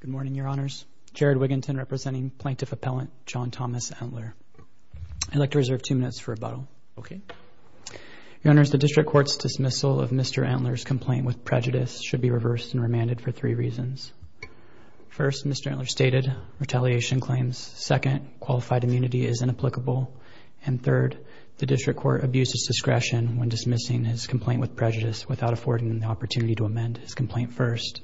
Good morning, Your Honors. Jared Wiginton representing Plaintiff Appellant John Thomas Entler. I'd like to reserve two minutes for rebuttal. Okay. Your Honors, the District Court's dismissal of Mr. Entler's complaint with prejudice should be reversed and remanded for three reasons. First, Mr. Entler stated retaliation claims. Second, qualified immunity is inapplicable. And third, the District Court abused its discretion when dismissing his complaint with prejudice without affording him the opportunity to amend his complaint first.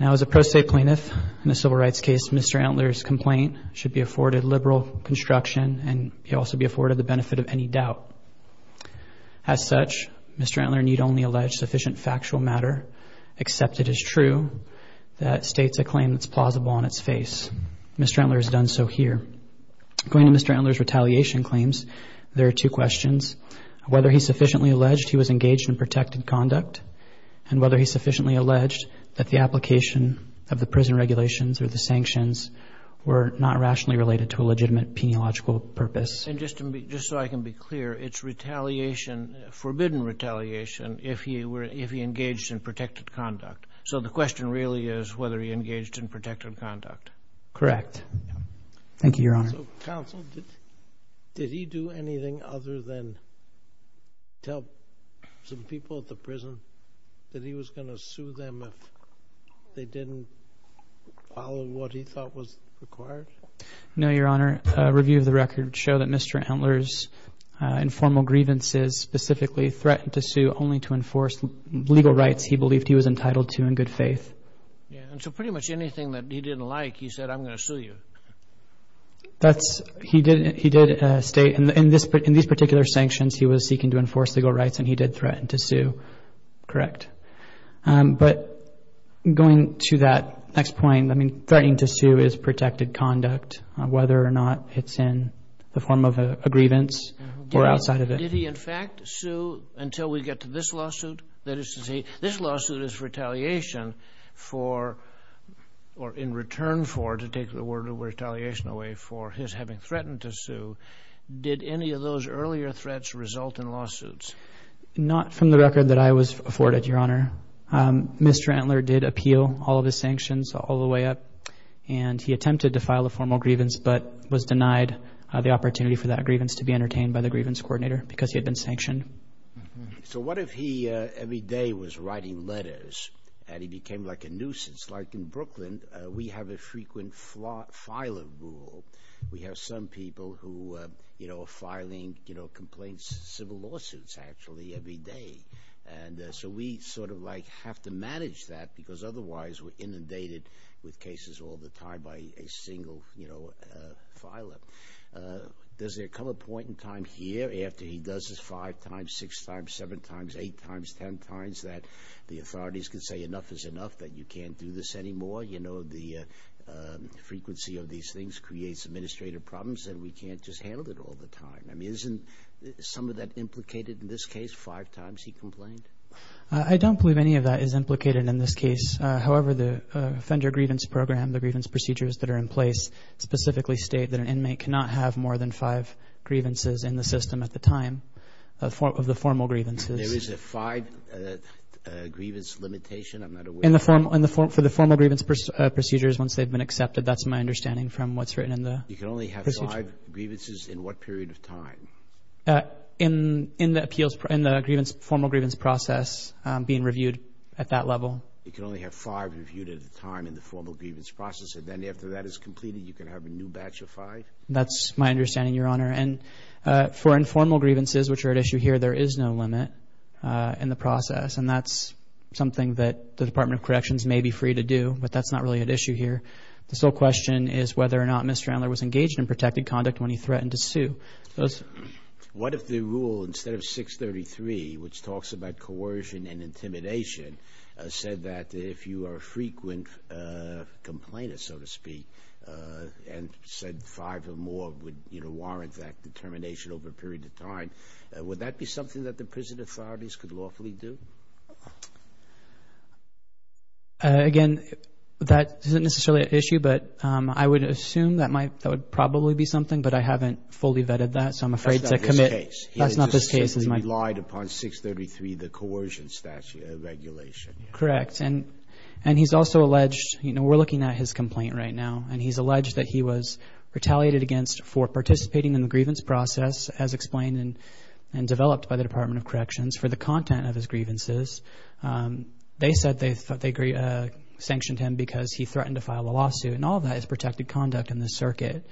Now, as a pro se plaintiff in a civil rights case, Mr. Entler's complaint should be afforded liberal construction, and he'll also be afforded the benefit of any doubt. As such, Mr. Entler need only allege sufficient factual matter, except it is true that states a claim that's plausible on its face. Mr. Entler has done so here. Going to Mr. Entler's retaliation claims, there are two questions. Whether he sufficiently alleged he was engaged in protected conduct, and whether he sufficiently alleged that the application of the prison regulations or the sanctions were not rationally related to a legitimate peniological purpose. And just to be, just so I can be clear, it's retaliation, forbidden retaliation, if he were, if he engaged in protected conduct. So the question really is whether he engaged in protected conduct. Correct. Thank you, Your Honor. So counsel, did, did he do anything other than tell some people at the time that he was going to sue them if they didn't follow what he thought was required? No, Your Honor. A review of the record show that Mr. Entler's informal grievances specifically threatened to sue only to enforce legal rights he believed he was entitled to in good faith. Yeah. And so pretty much anything that he didn't like, he said, I'm going to sue you. That's, he did, he did state in this, in these particular sanctions, he was seeking to enforce legal rights and he did threaten to sue. Correct. But going to that next point, I mean, threatening to sue is protected conduct, whether or not it's in the form of a grievance or outside of it. Did he in fact sue until we get to this lawsuit? That is to say, this lawsuit is retaliation for, or in return for, to take the word of retaliation away for his having threatened to sue. Did any of those earlier threats result in lawsuits? Not from the record that I was afforded, Your Honor. Mr. Entler did appeal all of his sanctions all the way up and he attempted to file a formal grievance, but was denied the opportunity for that grievance to be entertained by the grievance coordinator because he had been sanctioned. So what if he every day was writing letters and he became like a nuisance? Like in Brooklyn, we have a frequent filer rule. We have some people who, you know, are filing, you know, complaints, civil lawsuits actually every day. And so we sort of like have to manage that because otherwise we're inundated with cases all the time by a single, you know, filer. Does there come a point in time here after he does this five times, six times, seven times, eight times, 10 times that the authorities can say enough is enough that you can't do this anymore? You know, the frequency of these things creates administrative problems and we can't just handle it all the time. I mean, isn't some of that implicated in this case? The five times he complained? I don't believe any of that is implicated in this case. However, the offender grievance program, the grievance procedures that are in place specifically state that an inmate cannot have more than five grievances in the system at the time of the formal grievances. There is a five grievance limitation? I'm not aware. In the formal, for the formal grievance procedures, once they've been accepted, that's my understanding from what's written in the procedure. You can only have five grievances in what period of time? In the appeals, in the formal grievance process being reviewed at that level. You can only have five reviewed at a time in the formal grievance process. And then after that is completed, you can have a new batch of five? That's my understanding, Your Honor. And for informal grievances, which are at issue here, there is no limit in the process, and that's something that the Department of Corrections may be free to do, but that's not really an issue here. The sole question is whether or not Mr. Andler was engaged in protected conduct when he threatened to sue. What if the rule, instead of 633, which talks about coercion and intimidation, said that if you are a frequent complainant, so to speak, and said five or more would warrant that determination over a period of time, would that be something that the prison authorities could lawfully do? Again, that isn't necessarily an issue, but I would assume that might, that would probably be something, but I haven't fully vetted that, so I'm afraid to commit. That's not this case. That's not this case. He relied upon 633, the coercion statute, the regulation. Correct. And he's also alleged, you know, we're looking at his complaint right now, and he's alleged that he was retaliated against for participating in the grievance process, as explained and developed by the Department of Corrections, for the content of his grievances. They said they sanctioned him because he threatened to file a lawsuit. And all of that is protected conduct in this circuit.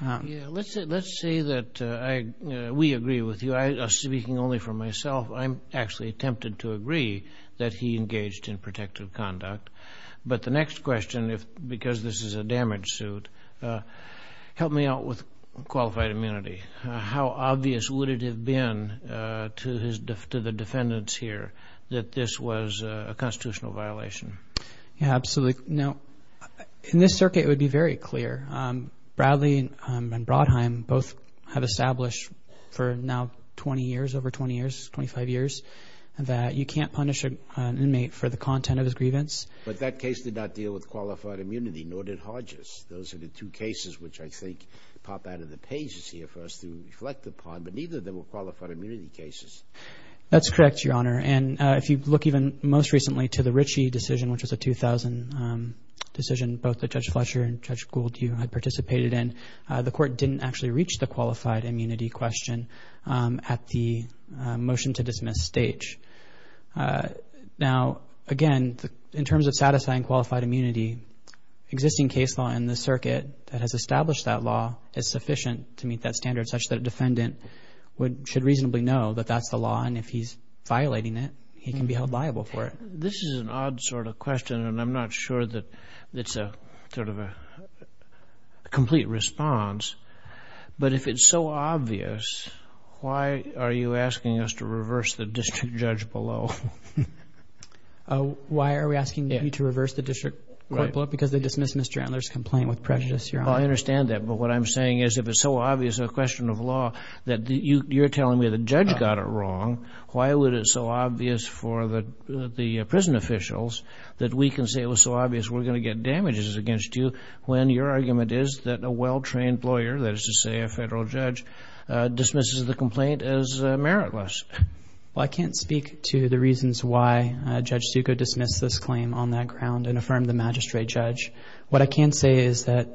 Yeah, let's say, let's say that I, we agree with you. I, speaking only for myself, I'm actually tempted to agree that he engaged in protective conduct. But the next question, if, because this is a damage suit, help me out with qualified immunity. How obvious would it have been to his, to the defendants here that this was a constitutional violation? Yeah, absolutely. Now, in this circuit, it would be very clear. Bradley and Brodheim both have established for now 20 years, over 20 years, 25 years, that you can't punish an inmate for the content of his grievance. But that case did not deal with qualified immunity, nor did Hodges. Those are the two cases which I think pop out of the pages here for us to reflect upon, but neither of them were qualified immunity cases. That's correct, Your Honor. And if you look even most recently to the Ritchie decision, which was a 2000 decision, both the Judge Fletcher and Judge Gould, you had participated in, the court didn't actually reach the qualified immunity question at the motion to dismiss stage. Now, again, in terms of satisfying qualified immunity, existing case law in the circuit that has established that law is sufficient to meet that standard, such that a defendant would, should reasonably know that that's the law. And if he's violating it, he can be held liable for it. This is an odd sort of question, and I'm not sure that it's a sort of a complete response, but if it's so obvious, why are you asking us to reverse the district judge below? Why are we asking you to reverse the district court below? Because they dismissed Mr. Antler's complaint with prejudice, Your Honor. Well, I understand that, but what I'm saying is, if it's so obvious a question of law that you're telling me the judge got it wrong, why would it so obvious for the prison officials that we can say it was so obvious we're going to get damages against you, when your argument is that a well-trained lawyer, that is to say, a federal judge, dismisses the complaint as meritless? Well, I can't speak to the reasons why Judge Succo dismissed this claim on that ground and affirmed the magistrate judge. What I can say is that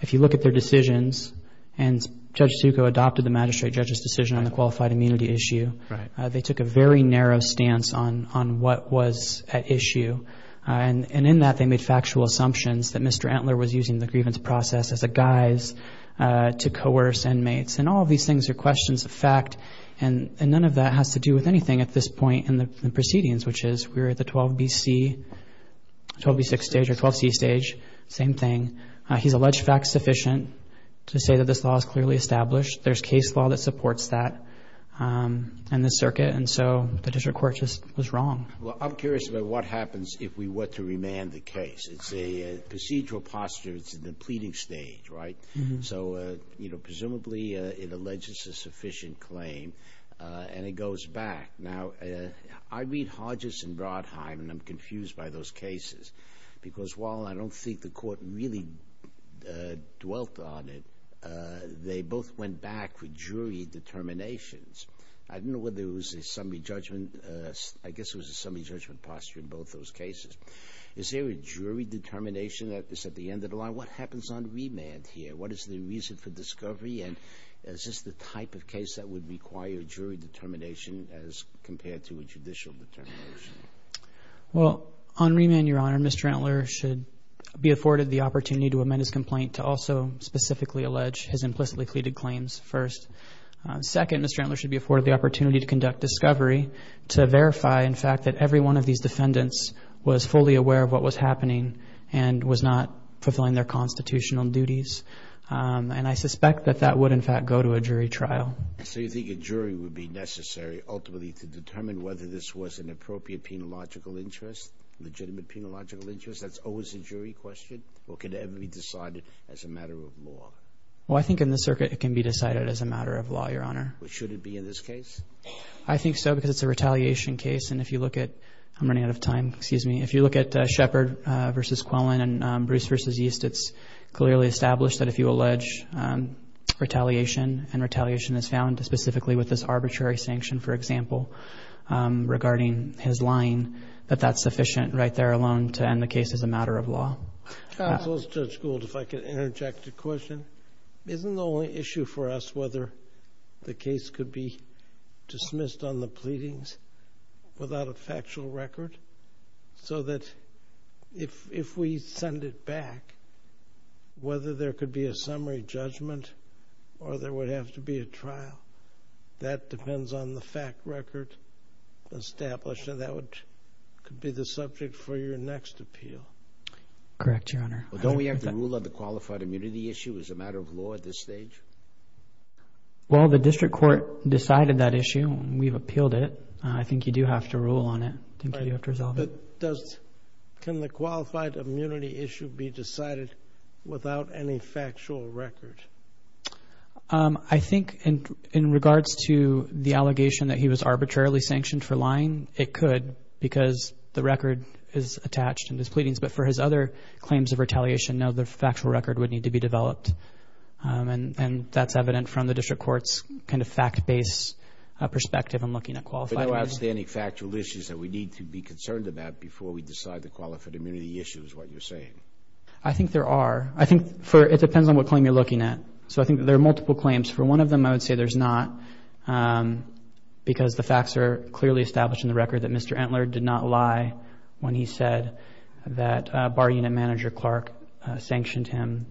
if you look at their decisions, and Judge Succo adopted the magistrate judge's decision on the qualified immunity issue, they took a very narrow stance on what was at issue. And in that, they made factual assumptions that Mr. Antler was using the grievance process as a guise to coerce inmates. And all of these things are questions of fact, and none of that has to do with anything at this point in the proceedings, which is we're at the 12B-C, 12B-6 stage or 12C stage, same thing. He's alleged fact-sufficient to say that this law is clearly established. There's case law that supports that in this circuit. And so the district court just was wrong. Well, I'm curious about what happens if we were to remand the case. It's a procedural posture. It's in the pleading stage, right? So, you know, presumably it alleges a sufficient claim and it goes back. Now, I read Hodges and Brodheim and I'm confused by those cases because while I don't think the court really dwelt on it, they both went back with jury determinations. I don't know whether it was a summary judgment, I guess it was a summary judgment posture in both those cases. Is there a jury determination that is at the end of the line? What happens on remand here? What is the reason for discovery? And is this the type of case that would require jury determination as compared to a judicial determination? Well, on remand, Your Honor, Mr. Antler should be afforded the opportunity to amend his complaint to also specifically allege his implicitly pleaded claims first. Second, Mr. Antler should be afforded the opportunity to conduct discovery to verify, in fact, that every one of these defendants was fully aware of what was happening and was not fulfilling their constitutional duties, and I suspect that that would, in fact, go to a jury trial. So you think a jury would be necessary ultimately to determine whether this was an appropriate penological interest, legitimate penological interest? That's always a jury question or can it ever be decided as a matter of law? Well, I think in the circuit it can be decided as a matter of law, Your Honor. But should it be in this case? I think so, because it's a retaliation case. And if you look at, I'm running out of time, excuse me. If you look at Shepard versus Quillen and Bruce versus East, it's clearly established that if you allege retaliation and retaliation is found specifically with this arbitrary sanction, for example, regarding his lying, that that's sufficient right there alone to end the case as a matter of law. Counsel to the school, if I could interject a question. Isn't the only issue for us, whether the case could be dismissed on the pleadings without a factual record so that if we send it back, whether there could be a summary judgment or there would have to be a trial, that depends on the fact record established and that could be the subject for your next appeal. Correct, Your Honor. Well, don't we have to rule on the qualified immunity issue as a matter of law at this stage? Well, the district court decided that issue and we've appealed it. I think you do have to rule on it. I think you have to resolve it. Can the qualified immunity issue be decided without any factual record? I think in regards to the allegation that he was arbitrarily sanctioned for lying, it could because the record is attached in his pleadings. But for his other claims of retaliation, no, the factual record would need to be developed. And that's evident from the district court's kind of fact-based perspective in looking at qualified immunity. But no outstanding factual issues that we need to be concerned about before we decide the qualified immunity issue is what you're saying. I think there are. I think it depends on what claim you're looking at. So I think there are multiple claims. For one of them, I would say there's not because the facts are clearly established in the record that Mr. Entler did not lie when he said that bar unit manager Clark sanctioned him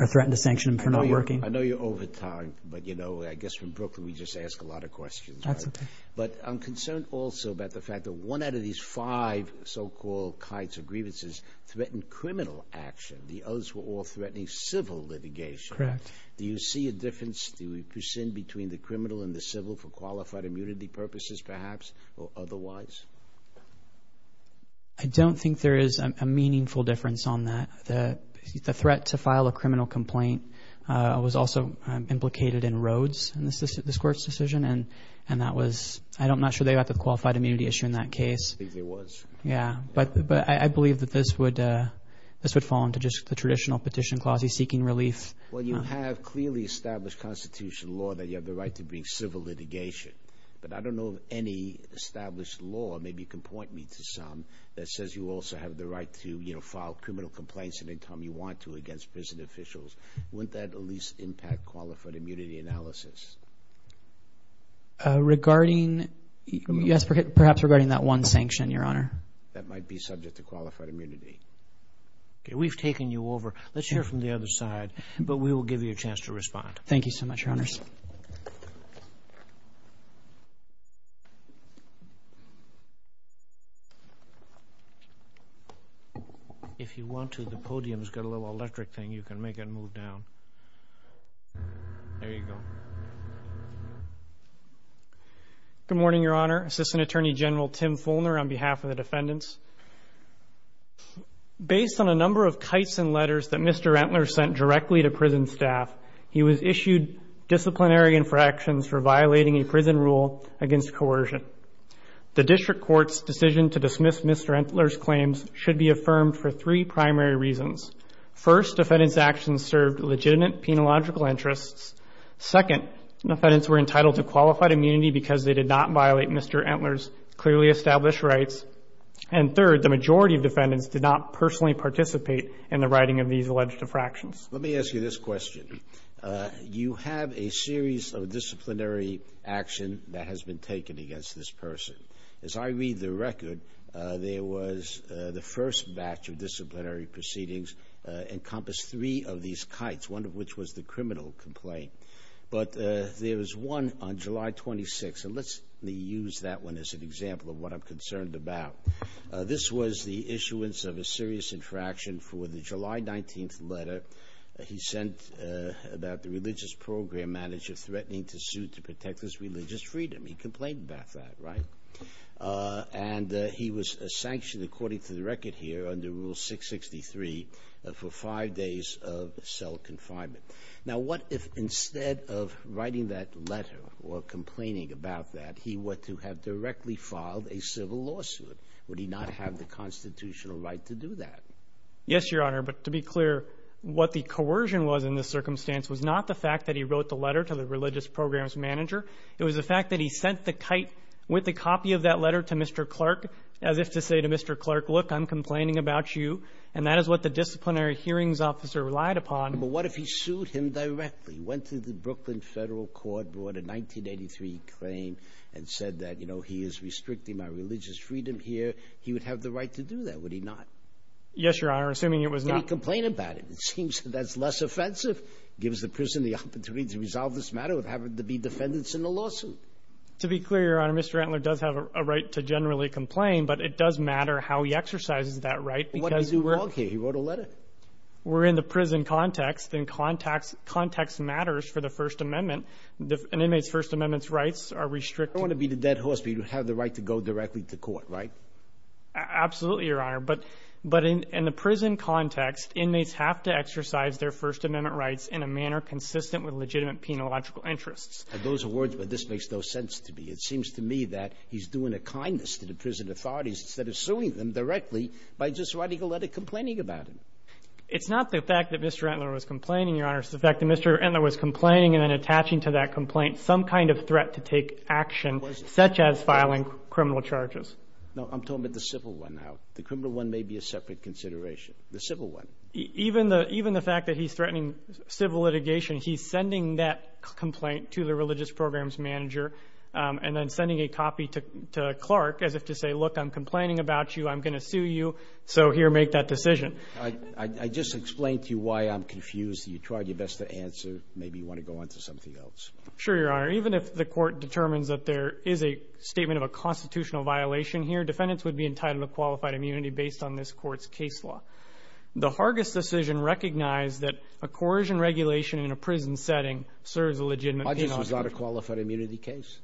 or threatened to sanction him for not working. I know you're over time, but you know, I guess from Brooklyn, we just ask a lot of questions. But I'm concerned also about the fact that one out of these five so-called kinds of grievances threatened criminal action. The others were all threatening civil litigation. Do you see a difference? Do we persist between the criminal and the civil for qualified immunity purposes, perhaps? Or otherwise? I don't think there is a meaningful difference on that. The threat to file a criminal complaint was also implicated in Rhodes and this court's decision. And, and that was, I don't, I'm not sure they got the qualified immunity issue in that case. I think there was. Yeah. But, but I believe that this would, this would fall into just the traditional petition clauses seeking relief. Well, you have clearly established constitutional law that you have the right to bring civil litigation. But I don't know of any established law, maybe you can point me to some, that says you also have the right to, you know, file criminal complaints anytime you want to against prison officials. Wouldn't that at least impact qualified immunity analysis? Regarding, yes, perhaps regarding that one sanction, Your Honor. That might be subject to qualified immunity. Okay. We've taken you over. Let's hear from the other side, but we will give you a chance to respond. Thank you so much, Your Honors. If you want to, the podium's got a little electric thing. You can make it move down. There you go. Good morning, Your Honor. Assistant Attorney General Tim Fulner on behalf of the defendants. Based on a number of Kyson letters that Mr. Entler sent directly to prison staff, he was issued disciplinary infractions for violating a prison rule against coercion. The district court's decision to dismiss Mr. Entler's claims should be affirmed for three primary reasons. First, defendant's actions served legitimate penological interests. Second, defendants were entitled to qualified immunity because they did not violate Mr. Entler's clearly established rights. And third, the majority of defendants did not personally participate in the writing of these alleged infractions. Let me ask you this question. You have a series of disciplinary action that has been taken against this person. As I read the record, there was the first batch of disciplinary proceedings encompassed three of these kites, one of which was the criminal complaint, but there was one on July 26th. And let's use that one as an example of what I'm concerned about. This was the issuance of a serious infraction for the July 19th letter. He sent about the religious program manager threatening to sue to protect his religious freedom. He complained about that, right? Uh, and, uh, he was sanctioned according to the record here under rule 663, uh, for five days of cell confinement. Now, what if instead of writing that letter or complaining about that, he went to have directly filed a civil lawsuit? Would he not have the constitutional right to do that? Yes, Your Honor. But to be clear, what the coercion was in this circumstance was not the fact that he wrote the letter to the religious programs manager. It was the fact that he sent the kite with a copy of that letter to Mr. Clark, as if to say to Mr. Clark, look, I'm complaining about you. And that is what the disciplinary hearings officer relied upon. But what if he sued him directly? Went to the Brooklyn federal court, brought a 1983 claim and said that, you know, he is restricting my religious freedom here. He would have the right to do that. Would he not? Yes, Your Honor. Assuming it was not complaining about it, it seems that's less offensive. It gives the person the opportunity to resolve this matter with having to be defendants in the lawsuit. To be clear, Your Honor, Mr. Antler does have a right to generally complain, but it does matter how he exercises that right. Because he wrote a letter. We're in the prison context and contacts context matters for the first amendment, an inmate's first amendment's rights are restricted. I don't want to be the dead horse, but you have the right to go directly to court, right? Absolutely, Your Honor. But in the prison context, inmates have to exercise their first amendment rights in a manner consistent with legitimate penological interests. And those are words where this makes no sense to me. It seems to me that he's doing a kindness to the prison authorities instead of suing them directly by just writing a letter complaining about it. It's not the fact that Mr. Antler was complaining, Your Honor. It's the fact that Mr. Antler was complaining and then attaching to that complaint some kind of threat to take action, such as filing criminal charges. No, I'm talking about the civil one now. The criminal one may be a separate consideration. The civil one. Even the, even the fact that he's threatening civil litigation, he's sending that complaint to the religious programs manager and then sending a copy to Clark as if to say, look, I'm complaining about you, I'm going to sue you, so here, make that decision. I just explained to you why I'm confused. You tried your best to answer. Maybe you want to go on to something else. Sure, Your Honor. Even if the court determines that there is a statement of a constitutional violation here, defendants would be entitled to unqualified immunity based on this court's case law. The Hargis decision recognized that a coercion regulation in a prison setting serves a legitimate penalty. My case was not a qualified immunity case.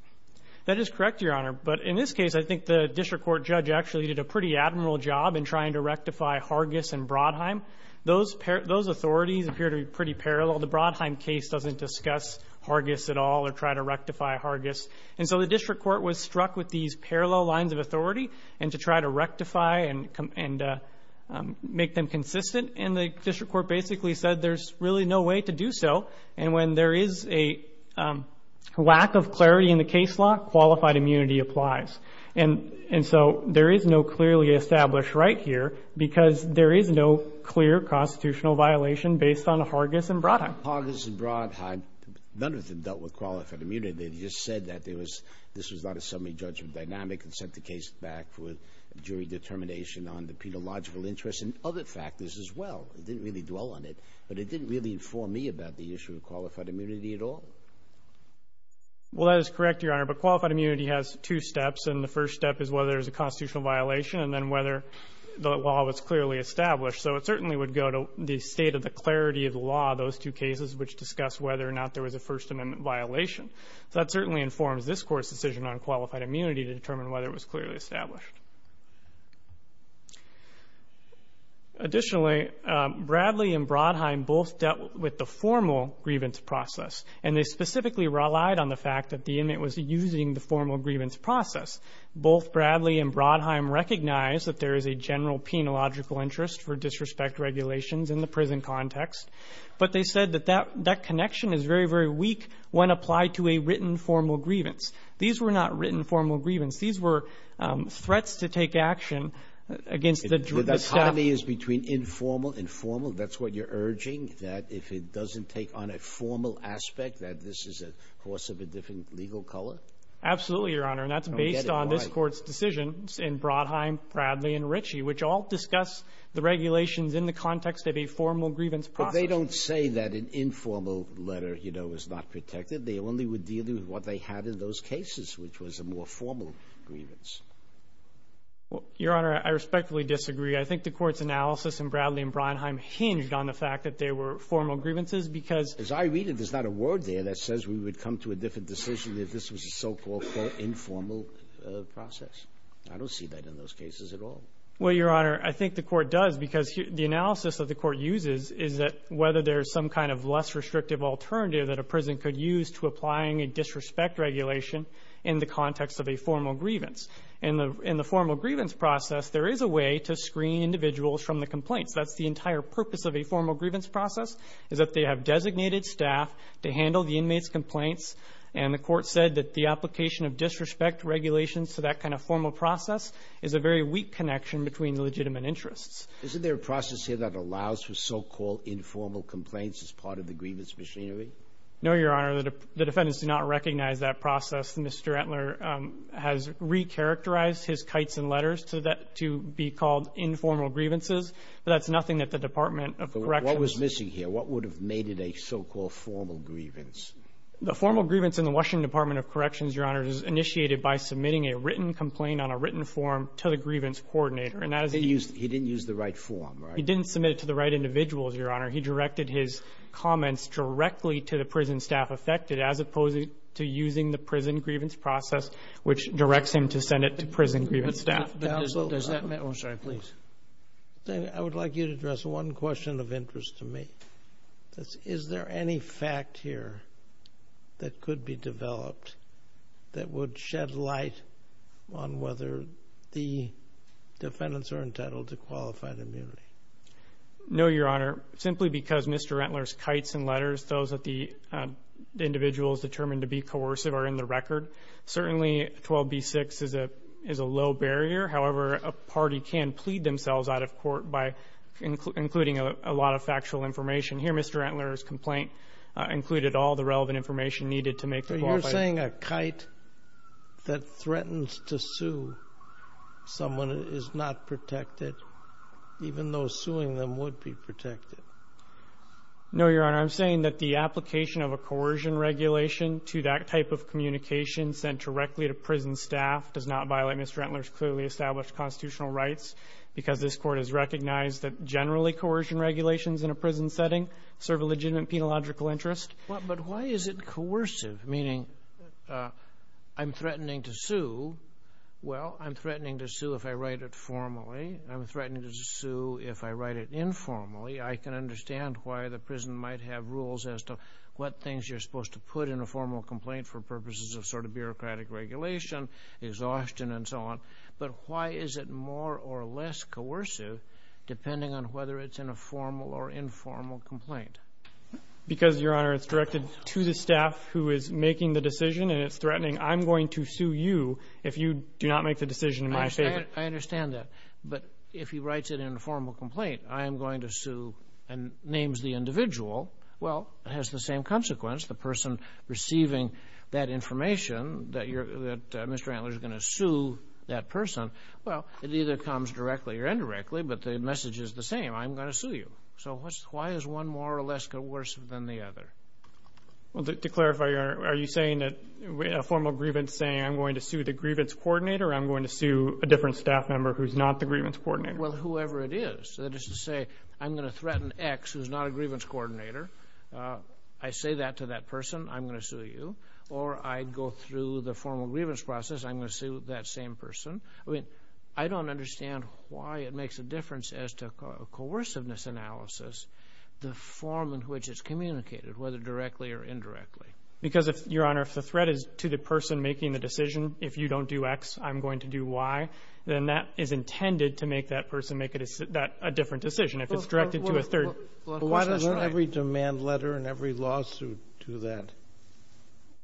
That is correct, Your Honor. But in this case, I think the district court judge actually did a pretty admiral job in trying to rectify Hargis and Brodheim. Those, those authorities appear to be pretty parallel. The Brodheim case doesn't discuss Hargis at all or try to rectify Hargis. And so the district court was struck with these parallel lines of authority and to try to rectify and make them consistent. And the district court basically said, there's really no way to do so. And when there is a lack of clarity in the case law, qualified immunity applies. And so there is no clearly established right here because there is no clear constitutional violation based on Hargis and Brodheim. Hargis and Brodheim, none of them dealt with qualified immunity. They just said that there was, this was not a summary judgment dynamic and sent the case back for jury determination on the pedological interests and other factors as well. It didn't really dwell on it, but it didn't really inform me about the issue of qualified immunity at all. Well, that is correct, Your Honor. But qualified immunity has two steps. And the first step is whether there's a constitutional violation and then whether the law was clearly established. So it certainly would go to the state of the clarity of the law, those two cases, which discuss whether or not there was a First Amendment violation. So that certainly informs this Court's decision on qualified immunity to determine whether it was clearly established. Additionally, Bradley and Brodheim both dealt with the formal grievance process, and they specifically relied on the fact that the inmate was using the formal grievance process. Both Bradley and Brodheim recognize that there is a general penological interest for disrespect regulations in the prison context. But they said that that connection is very, very weak when applied to a written formal grievance. These were not written formal grievance. These were threats to take action against the staff. It's highly between informal and formal. That's what you're urging, that if it doesn't take on a formal aspect, that this is a horse of a different legal color? Absolutely, Your Honor. And that's based on this Court's decisions in Brodheim, Bradley, and Ritchie, which all discuss the regulations in the context of a formal grievance process. But they don't say that an informal letter, you know, is not protected. They only would deal with what they had in those cases, which was a more formal grievance. Well, Your Honor, I respectfully disagree. I think the Court's analysis in Bradley and Brodheim hinged on the fact that they were formal grievances because... As I read it, there's not a word there that says we would come to a different decision if this was a so-called informal process. I don't see that in those cases at all. Well, Your Honor, I think the Court does because the analysis that the Court uses is that whether there's some kind of less restrictive alternative that a prison could use to applying a disrespect regulation in the context of a formal grievance. In the formal grievance process, there is a way to screen individuals from the complaints. That's the entire purpose of a formal grievance process, is that they have designated staff to handle the inmates' complaints. And the Court said that the application of disrespect regulations to that kind of formal process is a very weak connection between legitimate interests. Isn't there a process here that allows for so-called informal complaints as part of the grievance machinery? No, Your Honor. The defendants do not recognize that process. Mr. Entler has recharacterized his kites and letters to be called informal grievances, but that's nothing that the Department of Corrections... What was missing here? What would have made it a so-called formal grievance? The formal grievance in the Washington Department of Corrections, Your Honor, is initiated by submitting a written complaint on a written form to the grievance coordinator. He didn't use the right form, right? He didn't submit it to the right individuals, Your Honor. He directed his comments directly to the prison staff affected, as opposed to using the prison grievance process, which directs him to send it to prison grievance staff. But does that mean... Oh, sorry. Please. I would like you to address one question of interest to me. Is there any fact here that could be developed that would shed light on whether the defendants are entitled to qualified immunity? No, Your Honor. Simply because Mr. Entler's kites and letters, those that the individual is determined to be coercive, are in the record. Certainly, 12b-6 is a low barrier. However, a party can plead themselves out of court by including a lot of factual information. Here, Mr. Entler's complaint included all the relevant information needed to make the qualified... someone is not protected, even though suing them would be protected. No, Your Honor. I'm saying that the application of a coercion regulation to that type of communication sent directly to prison staff does not violate Mr. Entler's clearly established constitutional rights, because this Court has recognized that generally coercion regulations in a prison setting serve a legitimate penological interest. Well, I'm threatening to sue if I write it formally. I'm threatening to sue if I write it informally. I can understand why the prison might have rules as to what things you're supposed to put in a formal complaint for purposes of sort of bureaucratic regulation, exhaustion, and so on. But why is it more or less coercive, depending on whether it's in a formal or informal complaint? Because, Your Honor, it's directed to the staff who is making the decision, and it's threatening, I'm going to sue you if you do not make the decision in my favor. I understand that. But if he writes it in a formal complaint, I am going to sue, and names the individual, well, it has the same consequence. The person receiving that information, that Mr. Entler is going to sue that person, well, it either comes directly or indirectly, but the message is the same. I'm going to sue you. So why is one more or less coercive than the other? Well, to clarify, Your Honor, are you saying that a formal grievance saying, I'm going to sue the grievance coordinator, or I'm going to sue a different staff member who's not the grievance coordinator? Well, whoever it is. That is to say, I'm going to threaten X, who's not a grievance coordinator. I say that to that person, I'm going to sue you. Or I go through the formal grievance process, I'm going to sue that same person. I mean, I don't understand why it makes a difference as to coerciveness analysis, the form in which it's communicated, whether directly or indirectly. Because if, Your Honor, if the threat is to the person making the decision, if you don't do X, I'm going to do Y, then that is intended to make that person make a different decision. If it's directed to a third. Well, why does every demand letter and every lawsuit do that?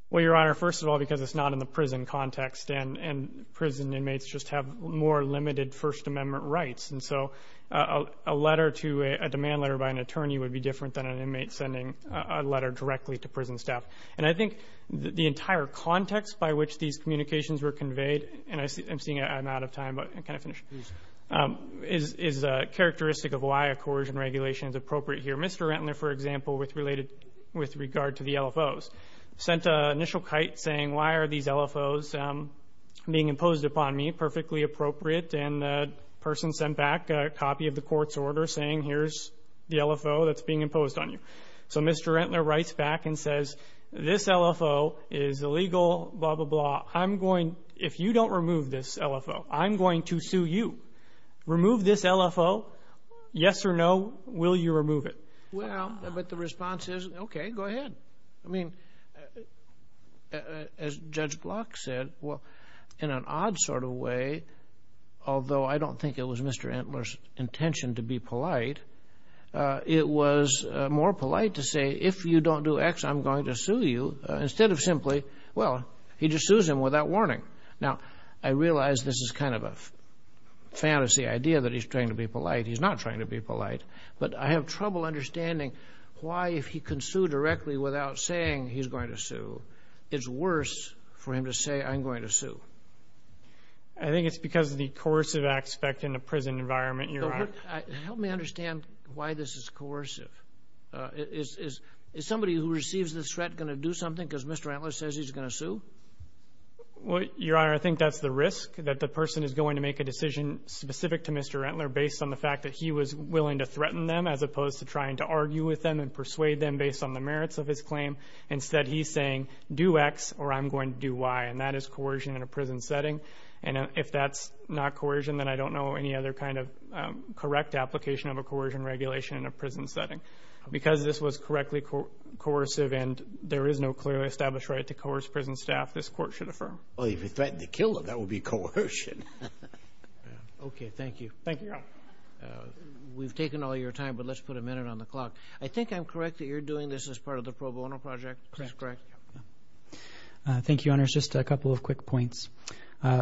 Well, Your Honor, first of all, because it's not in the prison context and prison inmates just have more limited First Amendment rights. And so a letter to a demand letter by an attorney would be different than an inmate sending a letter directly to prison staff. And I think the entire context by which these communications were conveyed, and I'm seeing I'm out of time, but I can finish, is characteristic of why a coercion regulation is appropriate here. Mr. Rentler, for example, with regard to the LFOs, sent an initial kite saying, why are these LFOs being imposed upon me? That's perfectly appropriate. And the person sent back a copy of the court's order saying, here's the LFO that's being imposed on you. So Mr. Rentler writes back and says, this LFO is illegal, blah, blah, blah. I'm going, if you don't remove this LFO, I'm going to sue you. Remove this LFO, yes or no, will you remove it? Well, but the response is, okay, go ahead. I mean, as Judge Block said, well, in an odd sort of way, although I don't think it was Mr. Rentler's intention to be polite, it was more polite to say, if you don't do X, I'm going to sue you, instead of simply, well, he just sues him without warning. Now, I realize this is kind of a fantasy idea that he's trying to be polite. He's not trying to be polite, but I have trouble understanding why, if he can sue directly without saying he's going to sue, it's worse for him to say, I'm going to sue. I think it's because of the coercive aspect in a prison environment, Your Honor. Help me understand why this is coercive. Is somebody who receives this threat going to do something because Mr. Rentler says he's going to sue? Well, Your Honor, I think that's the risk, that the person is going to make a decision specific to Mr. Rentler based on the fact that he was willing to threaten them as opposed to trying to argue with them and persuade them based on the merits of his claim. Instead, he's saying, do X or I'm going to do Y, and that is coercion in a prison setting. And if that's not coercion, then I don't know any other kind of correct application of a coercion regulation in a prison setting. Because this was correctly coercive and there is no clearly established right to coerce prison staff, this court should affirm. Well, if he threatened to kill them, that would be coercion. Okay. Thank you. Thank you, Your Honor. We've taken all your time, but let's put a minute on the clock. I think I'm correct that you're doing this as part of the pro bono project, is this correct? Thank you, Your Honor. It's just a couple of quick points.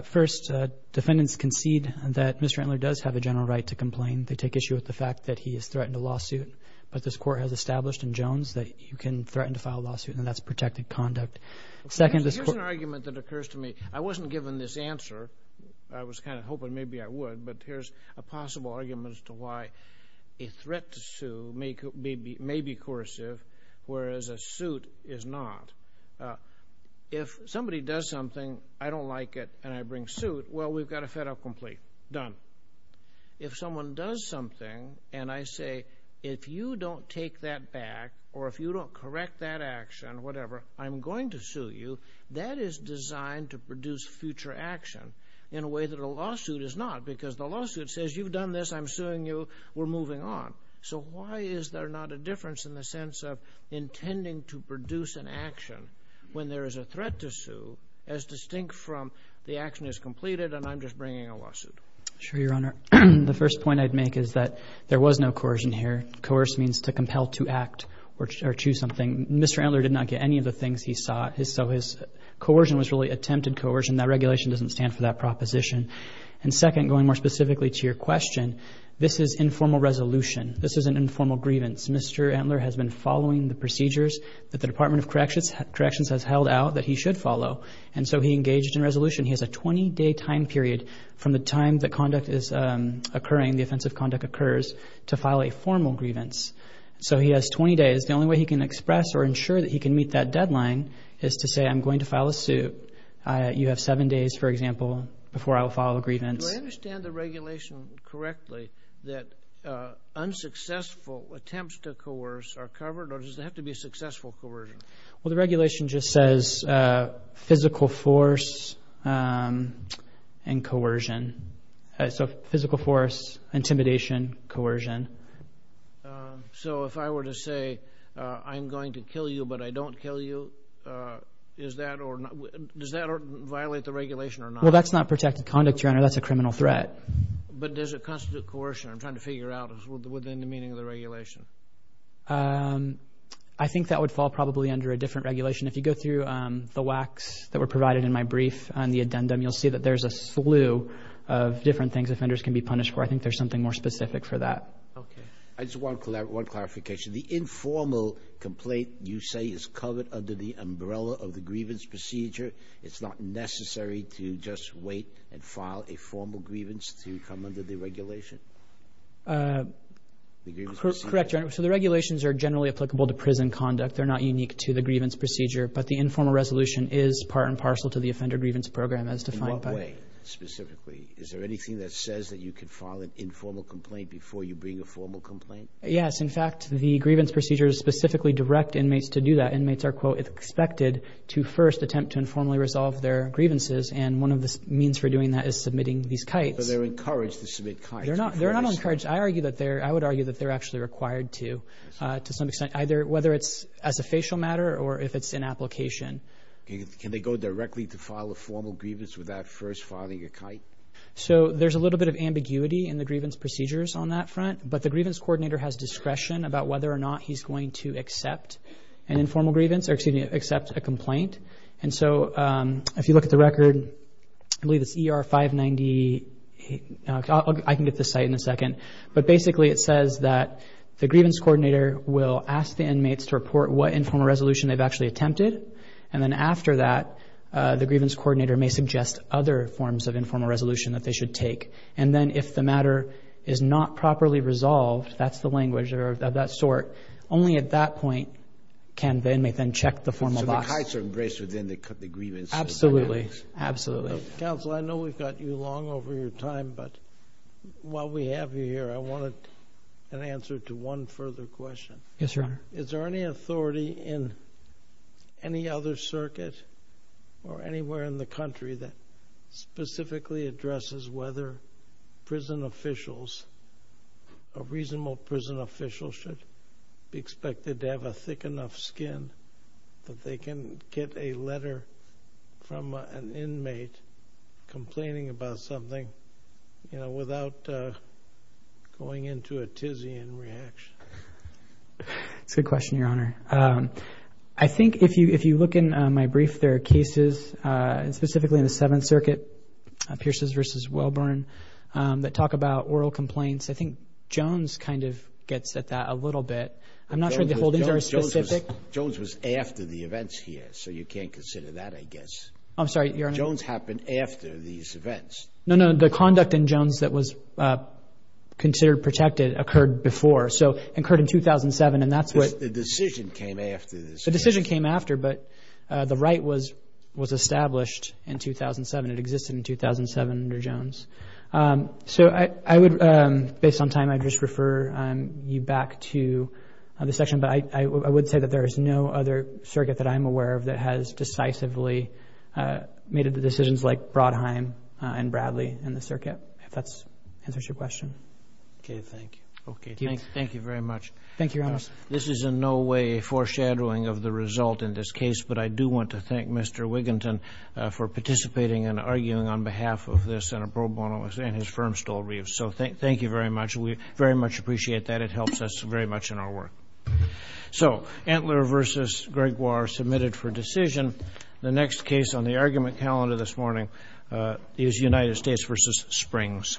First, defendants concede that Mr. Rentler does have a general right to complain. They take issue with the fact that he has threatened a lawsuit, but this court has established in Jones that you can threaten to file a lawsuit and that's protected conduct. Here's an argument that occurs to me. I wasn't given this answer. I was kind of hoping maybe I would, but here's a possible argument as to why a threat to sue may be coercive, whereas a suit is not. If somebody does something, I don't like it, and I bring suit, well, we've got a fed-up complaint. Done. If someone does something and I say, if you don't take that back or if you don't correct that action, whatever, I'm going to sue you, that is designed to produce future action. In a way that a lawsuit is not, because the lawsuit says, you've done this, I'm suing you, we're moving on. So why is there not a difference in the sense of intending to produce an action when there is a threat to sue as distinct from the action is completed and I'm just bringing a lawsuit? Sure, Your Honor. The first point I'd make is that there was no coercion here. Coerce means to compel to act or choose something. Mr. Rentler did not get any of the things he sought. So his coercion was really attempted coercion. That regulation doesn't stand for that proposition. And second, going more specifically to your question, this is informal resolution. This is an informal grievance. Mr. Entler has been following the procedures that the Department of Corrections has held out that he should follow. And so he engaged in resolution. He has a 20-day time period from the time the conduct is occurring, the offensive conduct occurs, to file a formal grievance. So he has 20 days. The only way he can express or ensure that he can meet that deadline is to say, I'm going to file a suit. You have seven days, for example, before I will file a grievance. Do I understand the regulation correctly that unsuccessful attempts to coerce are covered? Or does it have to be successful coercion? Well, the regulation just says physical force and coercion. So physical force, intimidation, coercion. So if I were to say, I'm going to kill you, but I don't kill you, is that or not? Does that violate the regulation or not? Well, that's not protected conduct, Your Honor. That's a criminal threat. But does it constitute coercion? I'm trying to figure out within the meaning of the regulation. I think that would fall probably under a different regulation. If you go through the WACs that were provided in my brief on the addendum, you'll see that there's a slew of different things offenders can be punished for. I think there's something more specific for that. Okay. I just want one clarification. The informal complaint, you say, is covered under the umbrella of the grievance procedure. It's not necessary to just wait and file a formal grievance to come under the regulation? Correct, Your Honor. So the regulations are generally applicable to prison conduct. They're not unique to the grievance procedure. But the informal resolution is part and parcel to the offender grievance program as defined by... In what way, specifically? Is there anything that says that you can file an informal complaint before you bring a formal complaint? Yes. In fact, the grievance procedures specifically direct inmates to do that. Inmates are, quote, expected to first attempt to informally resolve their grievances. And one of the means for doing that is submitting these kites. But they're encouraged to submit kites. They're not. They're not encouraged. I argue that they're... I would argue that they're actually required to, to some extent, either whether it's as a facial matter or if it's in application. Can they go directly to file a formal grievance without first filing a kite? So there's a little bit of ambiguity in the grievance procedures on that front. But the grievance coordinator has discretion about whether or not he's going to accept an informal grievance or, excuse me, accept a complaint. And so, if you look at the record, I believe it's ER 590... I can get this site in a second. But basically, it says that the grievance coordinator will ask the inmates to report what informal resolution they've actually attempted. And then after that, the grievance coordinator may suggest other forms of informal resolution that they should take. And then if the matter is not properly resolved, that's the language of that sort. Only at that point can they, may then check the formal box. So the kites are embraced within the grievance... Absolutely, absolutely. Counsel, I know we've got you long over your time, but while we have you here, I wanted an answer to one further question. Yes, Your Honor. Is there any authority in any other circuit or anywhere in the country that specifically addresses whether prison officials, a reasonable prison official should be expected to have a thick enough skin that they can get a letter from an inmate complaining about something, you know, without going into a tizzy in reaction? That's a good question, Your Honor. I think if you look in my brief, there are cases, specifically in the Seventh Circuit, Pierces versus Welborn, that talk about oral complaints. I think Jones kind of gets at that a little bit. I'm not sure the holdings are specific. Jones was after the events here, so you can't consider that, I guess. I'm sorry, Your Honor. Jones happened after these events. No, no. The conduct in Jones that was considered protected occurred before. So it occurred in 2007, and that's what... The decision came after this. It existed in 2007 under Jones. So I would, based on time, I'd just refer you back to the section. But I would say that there is no other circuit that I'm aware of that has decisively made the decisions like Brodheim and Bradley in the circuit, if that answers your question. Okay. Thank you. Okay. Thank you very much. Thank you, Your Honor. This is in no way a foreshadowing of the result in this case, but I do want to and his firm stole Reeves. So thank you very much. We very much appreciate that. It helps us very much in our work. So Entler versus Gregoire submitted for decision. The next case on the argument calendar this morning is United States versus Springs.